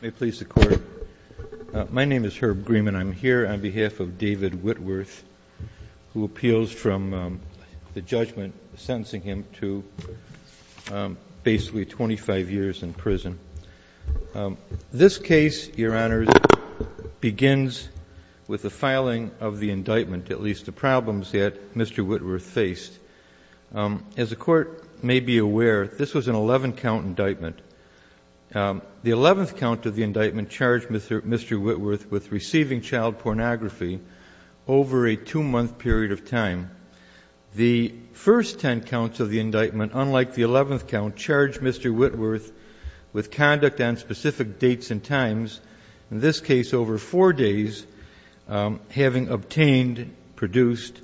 May it please the Court. My name is Herb Grieman. I'm here on behalf of David Whitworth, who appeals from the judgment sentencing him to basically 25 years in prison. This case, Your Honors, begins with the filing of the indictment, at least the problems that Mr. Whitworth faced. As the Court may be aware, this was an 11-count indictment. The 11th count of the indictment charged Mr. Whitworth with receiving child pornography over a two-month period of time. The first 10 counts of the indictment, unlike the 11th count, charged Mr. Whitworth with conduct on specific dates and times, in this case over four days, having obtained, produced,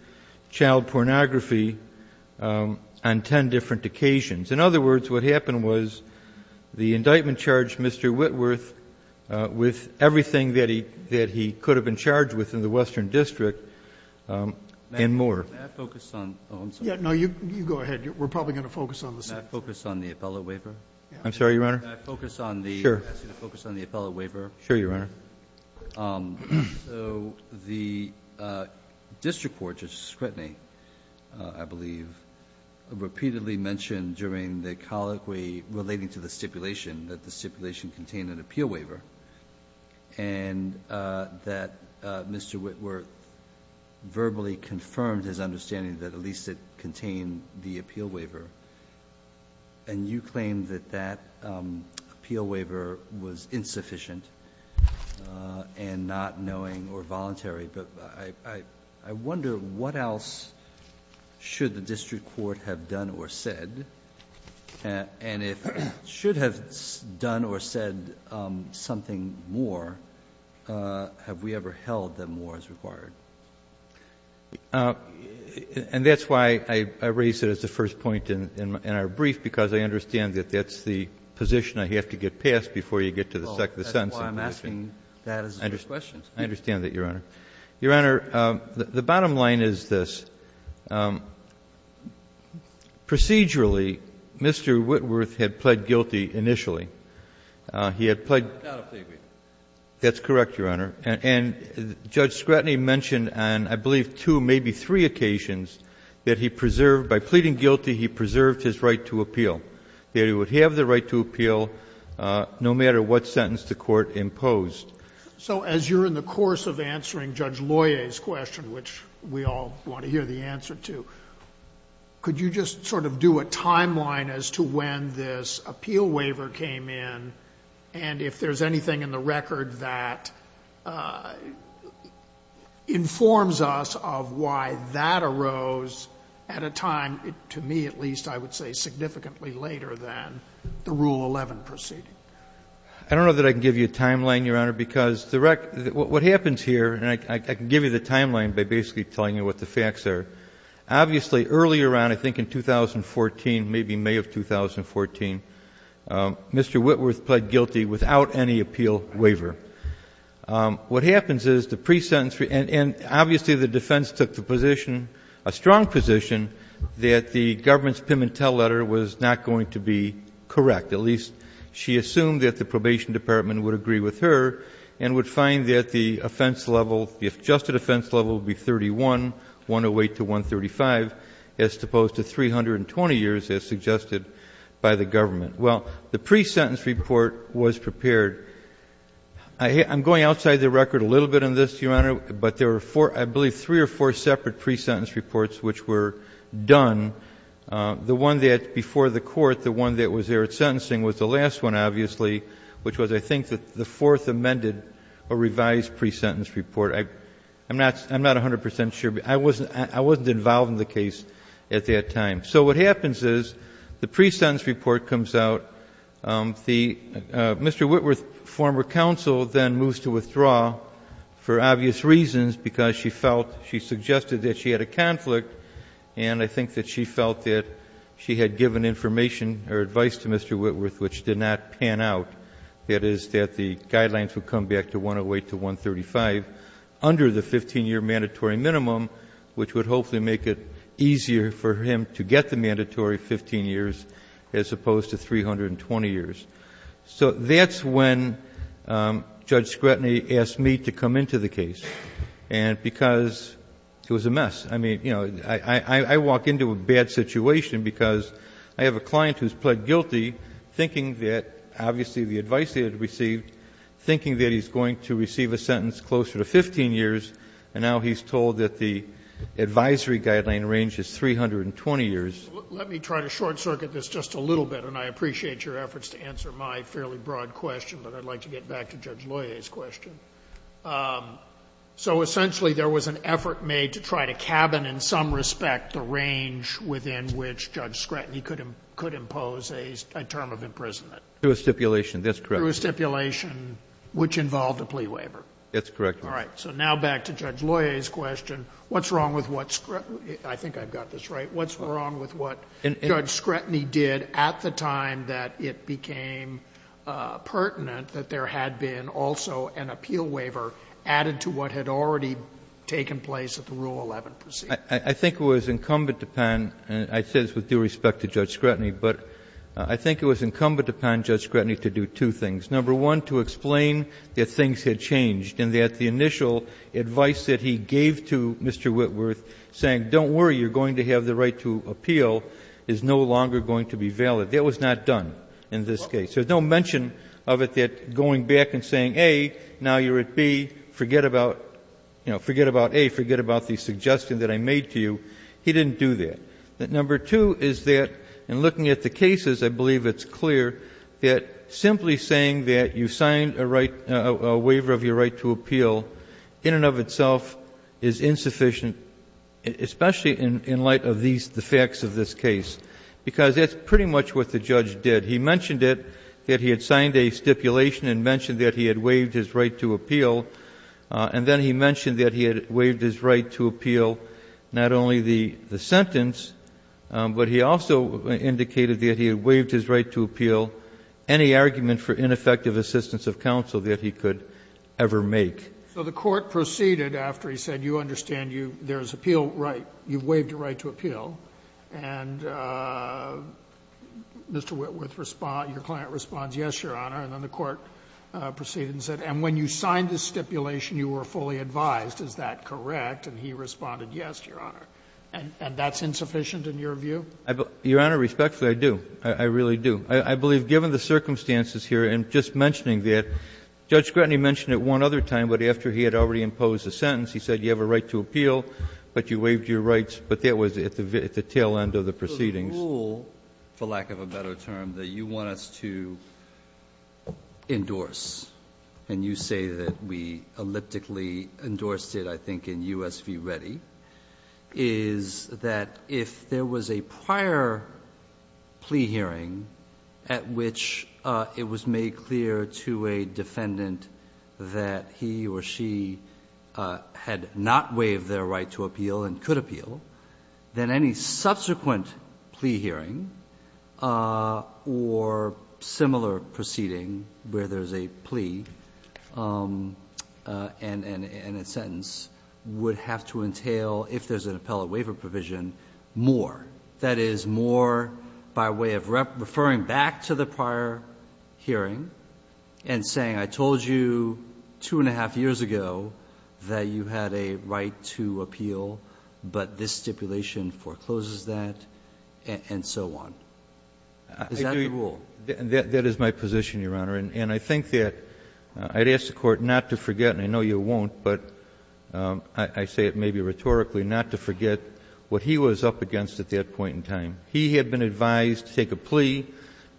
child pornography on 10 different occasions. In other words, what happened was the indictment charged Mr. Whitworth with everything that he could have been charged with in the Western District and more. Can I focus on the appellate waiver? I'm sorry, Your Honor? Can I focus on the appellate waiver? Sure, Your Honor. So the district court, Justice Kretny, I believe, repeatedly mentioned during the colloquy relating to the stipulation that the stipulation contained an appeal waiver, and that Mr. Whitworth verbally confirmed his understanding that at least it contained the appeal waiver, and you claim that that appeal waiver was insufficient and not knowing or voluntary. But I wonder what else should the district court have done or said, and if it should have done or said something more, have we ever held that more is required? And that's why I raise it as the first point in our brief, because I understand that that's the position I have to get past before you get to the second sentence. Well, that's why I'm asking that as the first question. I understand that, Your Honor. Your Honor, the bottom line is this. Procedurally, Mr. Whitworth had pled guilty initially. He had pled the appellate waiver. That's correct, Your Honor. And Judge Kretny mentioned on, I believe, two, maybe three occasions that he preserved by pleading guilty, he preserved his right to appeal, that he would have the right to appeal no matter what sentence the court imposed. So as you're in the course of answering Judge Loyer's question, which we all want to hear the answer to, could you just sort of do a timeline as to when this appeal occurred, and give us a record that informs us of why that arose at a time, to me at least, I would say significantly later than the Rule 11 proceeding? I don't know that I can give you a timeline, Your Honor, because the record — what happens here, and I can give you the timeline by basically telling you what the facts are. Obviously, early around, I think in 2014, maybe May of 2014, Mr. Whitworth pled guilty without any appeal waiver. What happens is, the pre-sentence — and obviously the defense took the position, a strong position, that the government's PIM and TELL letter was not going to be correct. At least, she assumed that the probation department would agree with her, and would find that the offense level, the adjusted offense level, would be 31, 108 to 135, as opposed to 320 years as suggested by the government. Well, the pre-sentence report was prepared. I'm going outside the record a little bit on this, Your Honor, but there were four — I believe three or four separate pre-sentence reports which were done. The one that — before the Court, the one that was there at sentencing was the last one, obviously, which was, I think, the fourth amended or revised pre-sentence report. I'm not 100 percent sure, but I wasn't — I wasn't involved in the case at that time. So what happens is, the pre-sentence report comes out. The — Mr. Whitworth's former counsel then moves to withdraw for obvious reasons, because she felt — she suggested that she had a conflict, and I think that she felt that she had given information or advice to Mr. Whitworth which did not pan out. That is, that the guidelines would come back to 108 to 135 under the 15-year mandatory minimum, which would hopefully make it easier for him to get the mandatory 15 years as opposed to 320 years. So that's when Judge Scrutiny asked me to come into the case, and — because it was a mess. I mean, you know, I walk into a bad situation because I have a client who's pled guilty, thinking that — obviously, the advice he had received, thinking that he's going to receive a sentence closer to 15 years, and now he's told that the advisory guideline range is 320 years. Sotomayor, let me try to short-circuit this just a little bit, and I appreciate your efforts to answer my fairly broad question, but I'd like to get back to Judge Loyer's question. So essentially, there was an effort made to try to cabin in some respect the range within which Judge Scrutiny could impose a term of imprisonment. Through a stipulation. That's correct. That's correct, Your Honor. All right. So now back to Judge Loyer's question. What's wrong with what — I think I've got this right. What's wrong with what Judge Scrutiny did at the time that it became pertinent that there had been also an appeal waiver added to what had already taken place at the Rule 11 proceeding? I think it was incumbent upon — and I say this with due respect to Judge Scrutiny — but I think it was incumbent upon Judge Scrutiny to do two things. Number one, to explain that things had changed and that the initial advice that he gave to Mr. Whitworth, saying, don't worry, you're going to have the right to appeal, is no longer going to be valid. That was not done in this case. There's no mention of it that going back and saying, A, now you're at B, forget about — you know, forget about A, forget about the suggestion that I made to you. He didn't do that. Number two is that, in looking at the cases, I believe it's clear that simply saying that you signed a waiver of your right to appeal, in and of itself, is insufficient, especially in light of the facts of this case, because that's pretty much what the judge did. He mentioned it, that he had signed a stipulation and mentioned that he had waived his right to appeal, and then he mentioned that he had waived his right to appeal not only the sentence, but he also indicated that he had waived his right to appeal any argument for ineffective assistance of counsel that he could ever make. So the Court proceeded after he said, you understand, you — there's appeal right, you've waived your right to appeal, and Mr. Whitworth responds — your client responds, yes, Your Honor, and then the Court proceeded and said, and when you signed this stipulation, you were fully advised, is that correct? And he responded, yes, Your Honor. And that's insufficient in your view? Your Honor, respectfully, I do. I really do. I believe, given the circumstances here, and just mentioning that, Judge Grettany mentioned it one other time, but after he had already imposed a sentence, he said you have a right to appeal, but you waived your rights, but that was at the tail end of the proceedings. The rule, for lack of a better term, that you want us to endorse, and you say that we elliptically endorsed it, I think, in U.S. v. Reddy, is that if there was a prior plea hearing at which it was made clear to a defendant that he or she had not waived their right to appeal and could appeal, then any subsequent plea hearing or similar proceeding where there's a plea and a sentence would have to entail, if there's more by way of referring back to the prior hearing and saying, I told you two and a half years ago that you had a right to appeal, but this stipulation forecloses that, and so on. Is that the rule? That is my position, Your Honor, and I think that I'd ask the Court not to forget, and I know you won't, but I say it maybe rhetorically, not to forget what he was up to at that point in time. He had been advised to take a plea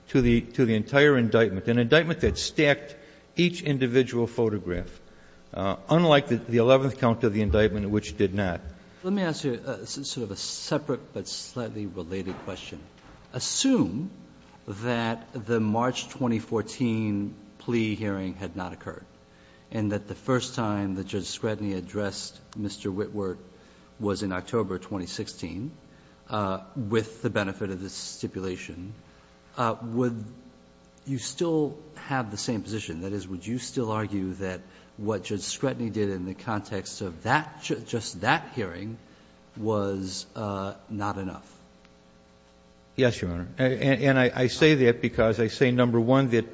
to the entire indictment, an indictment that stacked each individual photograph, unlike the 11th count of the indictment which did not. Let me ask you sort of a separate but slightly related question. Assume that the March 2014 plea hearing had not occurred, and that the first time that Judge Scrutiny addressed Mr. Witwert was in October 2016, with the benefit of this stipulation, would you still have the same position? That is, would you still argue that what Judge Scrutiny did in the context of that just that hearing was not enough? Yes, Your Honor, and I say that because I say, number one, that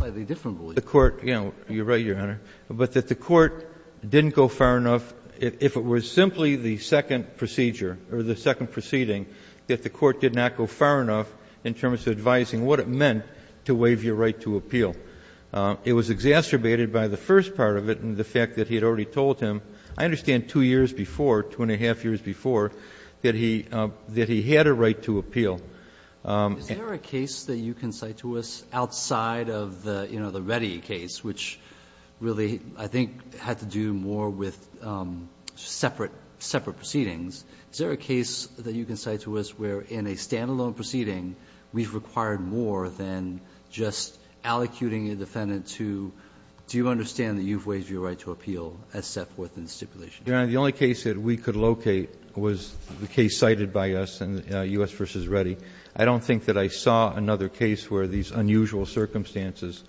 the Court, you know, you're right, Your Honor, but that the Court didn't go far enough, if it was simply the second procedure or the second proceeding, that the Court did not go far enough in terms of advising what it meant to waive your right to appeal. It was exacerbated by the first part of it and the fact that he had already told him, I understand, two years before, two and a half years before, that he had a right to appeal. Is there a case that you can cite to us outside of the, you know, the Reddy case, which really, I think, had to do more with separate proceedings? Is there a case that you can cite to us where in a standalone proceeding, we've required more than just allocuting a defendant to, do you understand that you've waived your right to appeal as set forth in the stipulation? The only case that we could locate was the case cited by us in U.S. v. Reddy. I don't think that I saw another case where these unusual circumstances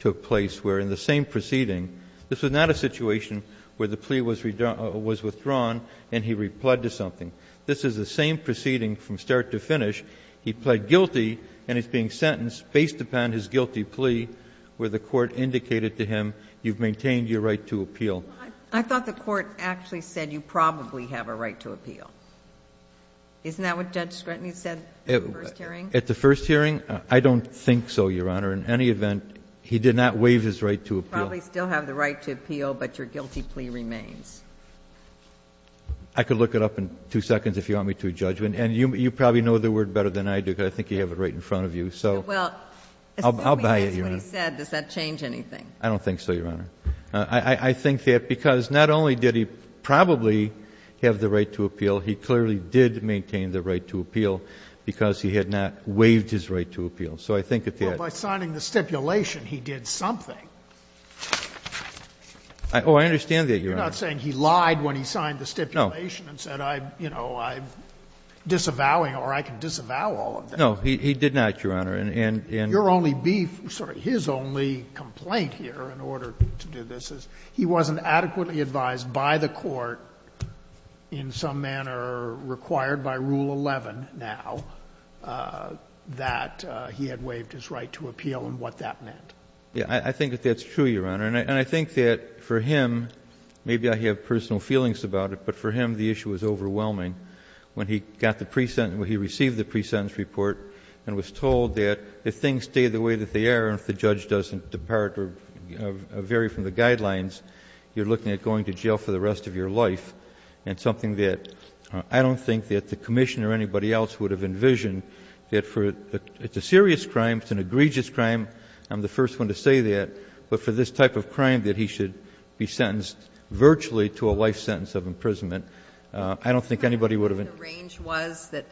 took place, where in the same proceeding, this was not a situation where the plea was withdrawn and he replied to something. This is the same proceeding from start to finish. He pled guilty and is being sentenced based upon his guilty plea where the Court indicated to him you've maintained your right to appeal. I thought the Court actually said you probably have a right to appeal. Isn't that what Judge Scranton said at the first hearing? At the first hearing, I don't think so, Your Honor. In any event, he did not waive his right to appeal. You probably still have the right to appeal, but your guilty plea remains. I could look it up in two seconds if you want me to, Judge, and you probably know the word better than I do because I think you have it right in front of you. So I'll buy it, Your Honor. Well, assuming that's what he said, does that change anything? I don't think so, Your Honor. I think that because not only did he probably have the right to appeal, he clearly did maintain the right to appeal because he had not waived his right to appeal. So I think that that's the case. Well, by signing the stipulation, he did something. Oh, I understand that, Your Honor. You're not saying he lied when he signed the stipulation and said, you know, I'm disavowing or I can disavow all of that. No, he did not, Your Honor. I think the reason that you're asking me to do this is he wasn't adequately advised by the Court in some manner required by Rule 11 now that he had waived his right to appeal and what that meant. Yes. I think that that's true, Your Honor. And I think that for him, maybe I have personal feelings about it, but for him the issue was overwhelming. When he got the presentence or he received the presentence report and was told that if things stay the way that they are and if the judge doesn't depart or vary from the guidelines, you're looking at going to jail for the rest of your life. And something that I don't think that the Commissioner or anybody else would have envisioned that for, it's a serious crime, it's an egregious crime. I'm the first one to say that. But for this type of crime that he should be sentenced virtually to a life sentence of imprisonment, I don't think anybody would have. Do you know what the range was that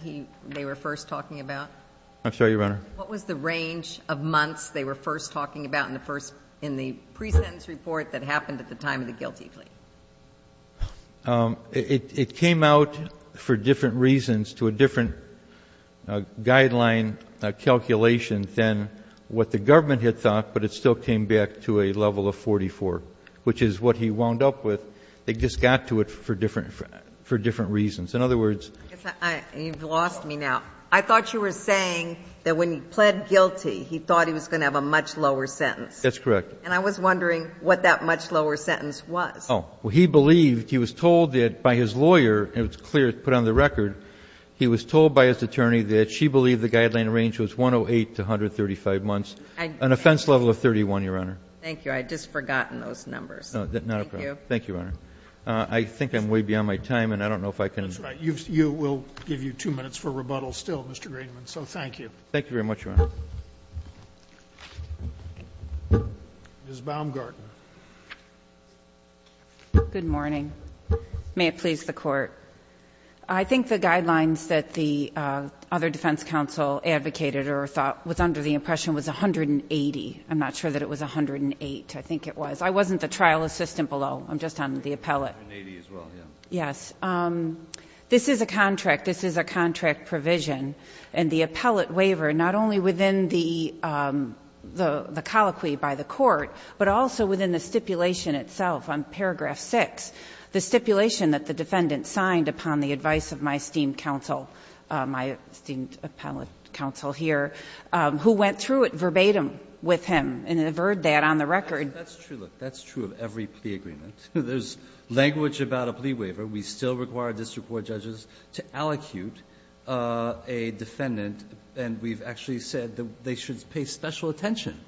they were first talking about? I'm sorry, Your Honor. What was the range of months they were first talking about in the first, in the presentence report that happened at the time of the guilty plea? It came out for different reasons to a different guideline calculation than what the government had thought, but it still came back to a level of 44, which is what he wound up with. They just got to it for different reasons. In other words. You've lost me now. I thought you were saying that when he pled guilty, he thought he was going to have a much lower sentence. That's correct. And I was wondering what that much lower sentence was. Oh, well, he believed, he was told that by his lawyer, it was clear, put on the record, he was told by his attorney that she believed the guideline range was 108 to 135 months, an offense level of 31, Your Honor. Thank you. I just forgotten those numbers. No, not a problem. Thank you, Your Honor. I think I'm way beyond my time and I don't know if I can. That's right. You've, you will give you two minutes for rebuttal still, Mr. Greenman. So thank you. Thank you very much, Your Honor. Ms. Baumgarten. Good morning. May it please the court. I think the guidelines that the other defense counsel advocated or thought was under the impression was 180. I'm not sure that it was 108. I think it was. I wasn't the trial assistant below. I'm just on the appellate. Yes. This is a contract. This is a contract provision and the appellate waiver, not only within the colloquy by the court, but also within the stipulation itself on paragraph 6, the stipulation that the defendant signed upon the advice of my esteemed counsel, my esteemed appellate counsel here, who went through it verbatim with him and averred that on the record. That's true. That's true of every plea agreement. There's language about a plea waiver. We still require district court judges to allocute a defendant, and we've actually said that they should pay special attention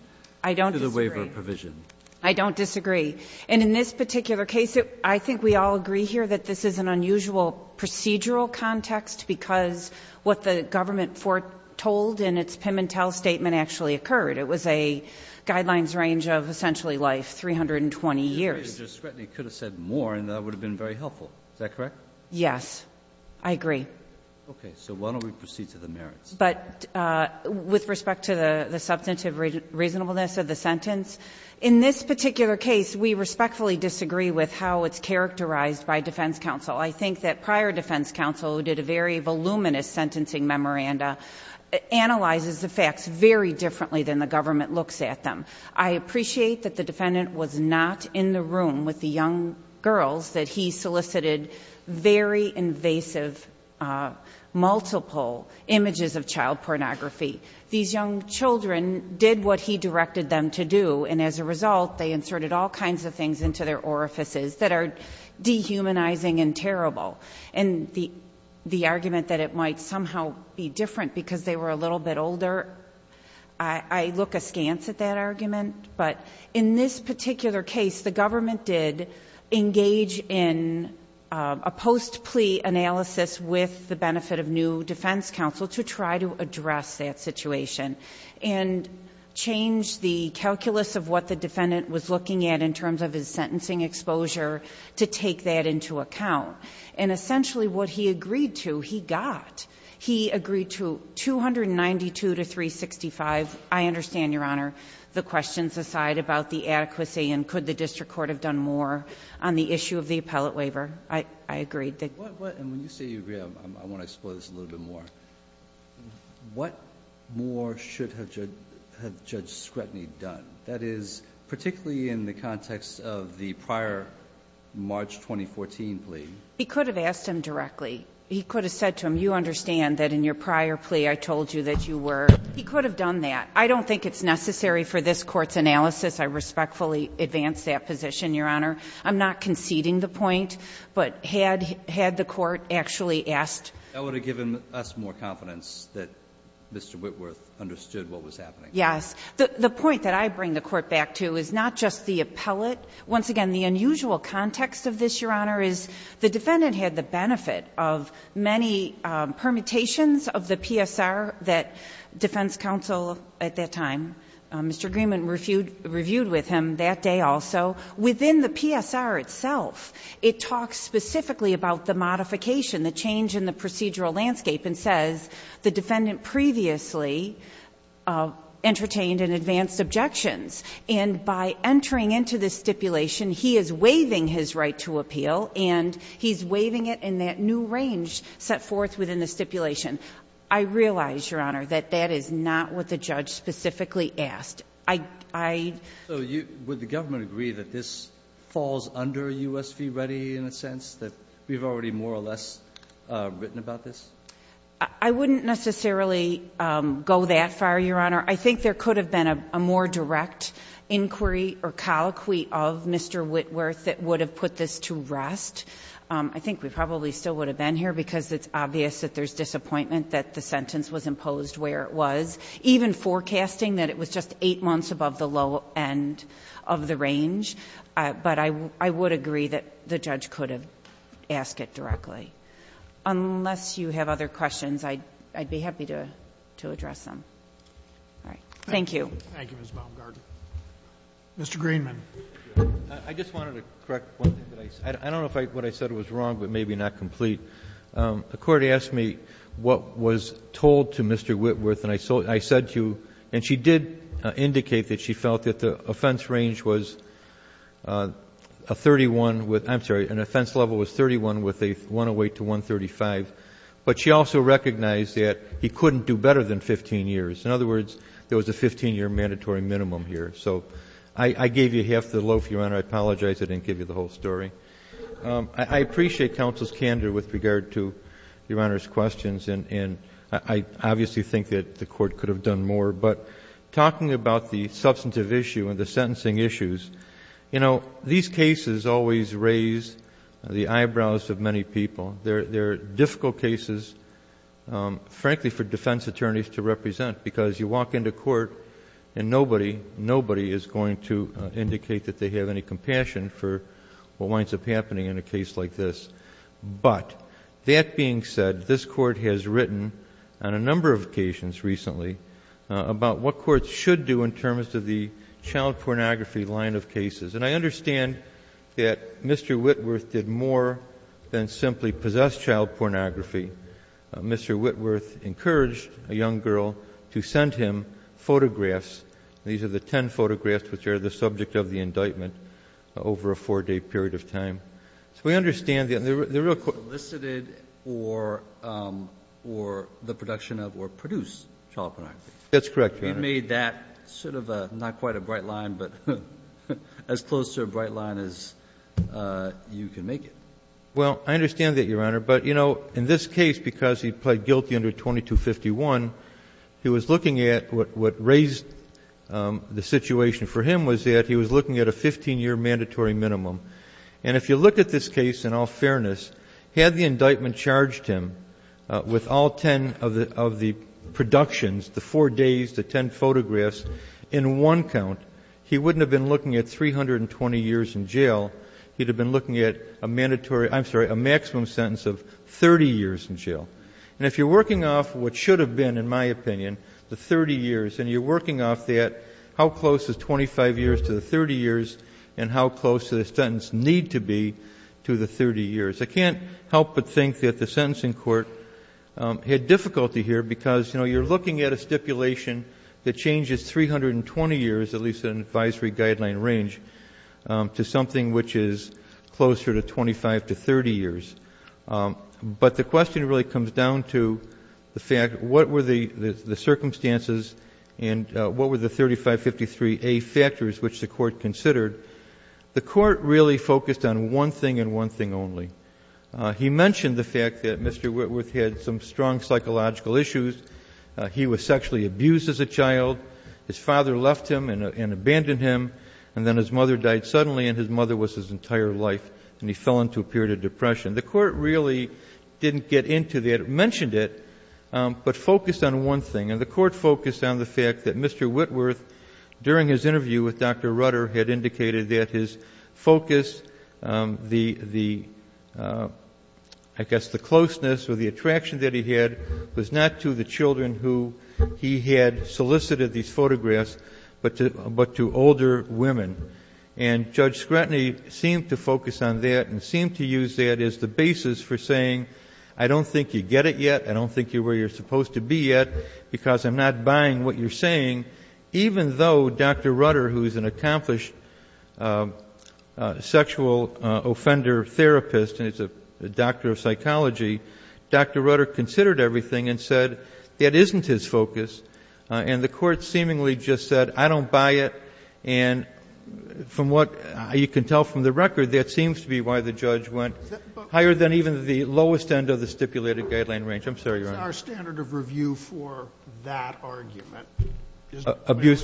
to the waiver provision. I don't disagree. And in this particular case, I think we all agree here that this is an unusual procedural context because what the government foretold in its Pimentel statement actually occurred. It was a guidelines range of essentially life, 320 years. If you could have said more, that would have been very helpful. Is that correct? Yes. I agree. Okay. So why don't we proceed to the merits? But with respect to the substantive reasonableness of the sentence, in this particular case, we respectfully disagree with how it's characterized by defense counsel. I think that prior defense counsel did a very voluminous sentencing memoranda, analyzes the facts very differently than the government looks at them. I appreciate that the defendant was not in the room with the young girls that he solicited very invasive, multiple images of child pornography. These young children did what he directed them to do, and as a result, they inserted all kinds of things into their orifices that are dehumanizing and terrible, and the argument that it might somehow be different because they were a little bit older, I look askance at that argument, but in this particular case, the government did engage in a post-plea analysis with the benefit of new defense counsel to try to address that situation and change the calculus of what the defendant was looking at in terms of his sentencing exposure to take that into account, and essentially what he agreed to, he got. He agreed to 292 to 365. I understand, Your Honor, the questions aside about the adequacy and could the district court have done more on the issue of the appellate waiver. I agree. And when you say you agree, I want to explore this a little bit more. What more should have Judge Scrutiny done? That is, particularly in the context of the prior March 2014 plea. He could have asked him directly. He could have said to him, you understand that in your prior plea I told you that you were, he could have done that. I don't think it's necessary for this court's analysis. I respectfully advance that position, Your Honor. I'm not conceding the point, but had the court actually asked. That would have given us more confidence that Mr. Whitworth understood what was happening. Yes. The point that I bring the court back to is not just the appellate. Once again, the unusual context of this, Your Honor, is the defendant had the many permutations of the PSR that defense counsel at that time, Mr. Greenman, reviewed with him that day also. Within the PSR itself, it talks specifically about the modification, the change in the procedural landscape, and says the defendant previously entertained and advanced objections. And by entering into this stipulation, he is waiving his right to appeal, and he's in a new range set forth within the stipulation. I realize, Your Honor, that that is not what the judge specifically asked. I, I. So you, would the government agree that this falls under US v. Reddy in a sense, that we've already more or less written about this? I wouldn't necessarily go that far, Your Honor. I think there could have been a more direct inquiry or colloquy of Mr. Whitworth that would have put this to rest. I think we probably still would have been here, because it's obvious that there's disappointment that the sentence was imposed where it was, even forecasting that it was just eight months above the low end of the range. But I, I would agree that the judge could have asked it directly. Unless you have other questions, I'd, I'd be happy to, to address them. All right. Thank you. Thank you, Ms. Baumgarten. Mr. Greenman. I just wanted to correct one thing that I said. I don't know if I, what I said was wrong, but maybe not complete. The court asked me what was told to Mr. Whitworth, and I said to you, and she did indicate that she felt that the offense range was a 31 with, I'm sorry, an offense level was 31 with a 108 to 135. But she also recognized that he couldn't do better than 15 years. In other words, there was a 15 year mandatory minimum here. I apologize I didn't give you the whole story. I appreciate counsel's candor with regard to Your Honor's questions, and I obviously think that the court could have done more. But talking about the substantive issue and the sentencing issues, you know, these cases always raise the eyebrows of many people. They're difficult cases, frankly, for defense attorneys to represent because you walk into a court and nobody, nobody is going to indicate that they have any compassion for what winds up happening in a case like this. But that being said, this court has written on a number of occasions recently about what courts should do in terms of the child pornography line of cases. And I understand that Mr. Whitworth did more than simply possess child pornography. Mr. Whitworth encouraged a young girl to send him photographs. These are the ten photographs which are the subject of the indictment over a four-day period of time. So we understand that the real court ---- Kennedy, you solicited or the production of or produced child pornography. That's correct, Your Honor. You made that sort of a not quite a bright line, but as close to a bright line as you can make it. Well, I understand that, Your Honor. But, you know, in this case, because he pled guilty under 2251, he was looking at what raised the situation for him was that he was looking at a 15-year mandatory minimum. And if you look at this case in all fairness, had the indictment charged him with all ten of the productions, the four days, the ten photographs, in one count, he wouldn't have been looking at 320 years in jail. He'd have been looking at a mandatory ---- I'm sorry, a maximum sentence of 30 years in jail. And if you're working off what should have been, in my opinion, the 30 years, and you're working off that, how close is 25 years to the 30 years and how close do the sentences need to be to the 30 years? I can't help but think that the sentencing court had difficulty here because, you know, you're looking at a stipulation that changes 320 years, at least in an advisory guideline range, to something which is closer to 25 to 30 years. But the question really comes down to the fact, what were the circumstances and what were the 3553A factors which the court considered? The court really focused on one thing and one thing only. He mentioned the fact that Mr. Whitworth had some strong psychological issues. He was sexually abused as a child. His father left him and abandoned him, and then his mother died suddenly, and his mother was his entire life, and he fell into a period of depression. The court really didn't get into that, mentioned it, but focused on one thing. And the court focused on the fact that Mr. Whitworth, during his interview with Dr. Rutter, had indicated that his focus, the, I guess, the closeness or the attraction that he had was not to the children who he had solicited these photographs, but to older women. And Judge Scrutiny seemed to focus on that and seemed to use that as the basis for saying, I don't think you get it yet, I don't think you're where you're supposed to be yet because I'm not buying what you're saying, even though Dr. Rutter, who is an accomplished sexual offender therapist and is a doctor of psychology, Dr. Rutter considered everything and said, that isn't his focus. And the court seemingly just said, I don't buy it. And from what you can tell from the record, that seems to be why the judge went higher than even the lowest end of the stipulated guideline range. I'm sorry, Your Honor. Sotomayor, it's our standard of review for that argument. Is it fair to you?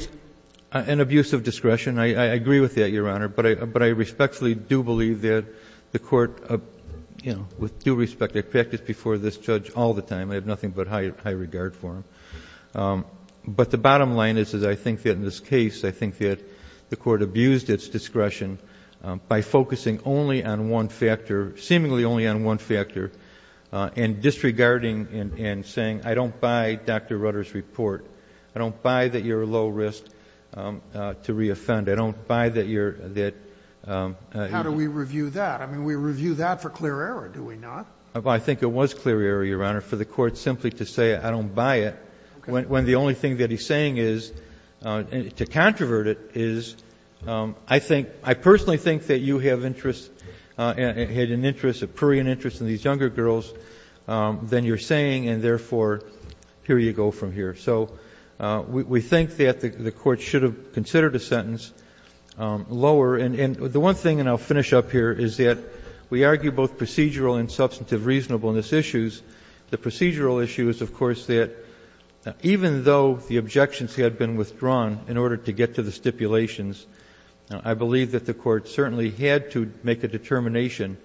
An abuse of discretion, I agree with that, Your Honor. But I respectfully do believe that the court, with due respect, I practice before this judge all the time. I have nothing but high regard for him. But the bottom line is, I think that in this case, I think that the court abused its discretion by focusing only on one factor, seemingly only on one factor, and disregarding and saying, I don't buy Dr. Rutter's report. I don't buy that you're low risk to re-offend. I don't buy that you're, that. How do we review that? I mean, we review that for clear error, do we not? I think it was clear error, Your Honor, for the court simply to say, I don't buy it, when the only thing that he's saying is, to controvert it, is, I think, I personally think that you have interest, had an interest, a prurient interest in these younger girls than you're saying, and therefore, here you go from here. So we think that the court should have considered a sentence lower. And the one thing, and I'll finish up here, is that we argue both procedural and substantive reasonableness issues. The procedural issue is, of course, that even though the objections had been withdrawn in order to get to the stipulations, I believe that the court certainly had to make a determination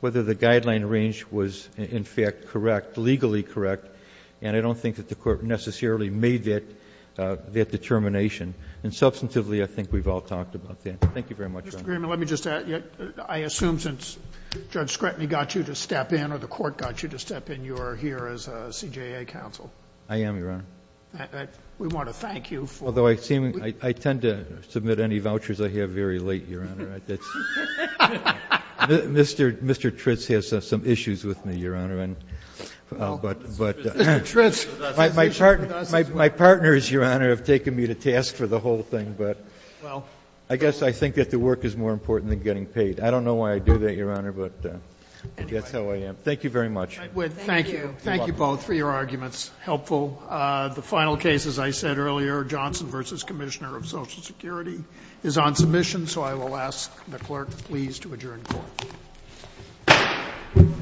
whether the guideline range was, in fact, correct, legally correct. And I don't think that the court necessarily made that determination. And substantively, I think we've all talked about that. Thank you very much, Your Honor. Sotomayor, let me just add, I assume since Judge Scrutiny got you to step in, or the court got you to step in, you're here as a CJA counsel? I am, Your Honor. We want to thank you for that. Although I seem, I tend to submit any vouchers I have very late, Your Honor. Mr. Tritz has some issues with me, Your Honor. But my partners, Your Honor, have taken me to task for the whole thing. But I guess I think that the work is more important than getting paid. I don't know why I do that, Your Honor. But that's how I am. Thank you very much. Thank you. Thank you both for your arguments. Helpful. The final case, as I said earlier, Johnson v. Commissioner of Social Security, is on submission. So I will ask the clerk, please, to adjourn court. Let me get the chair.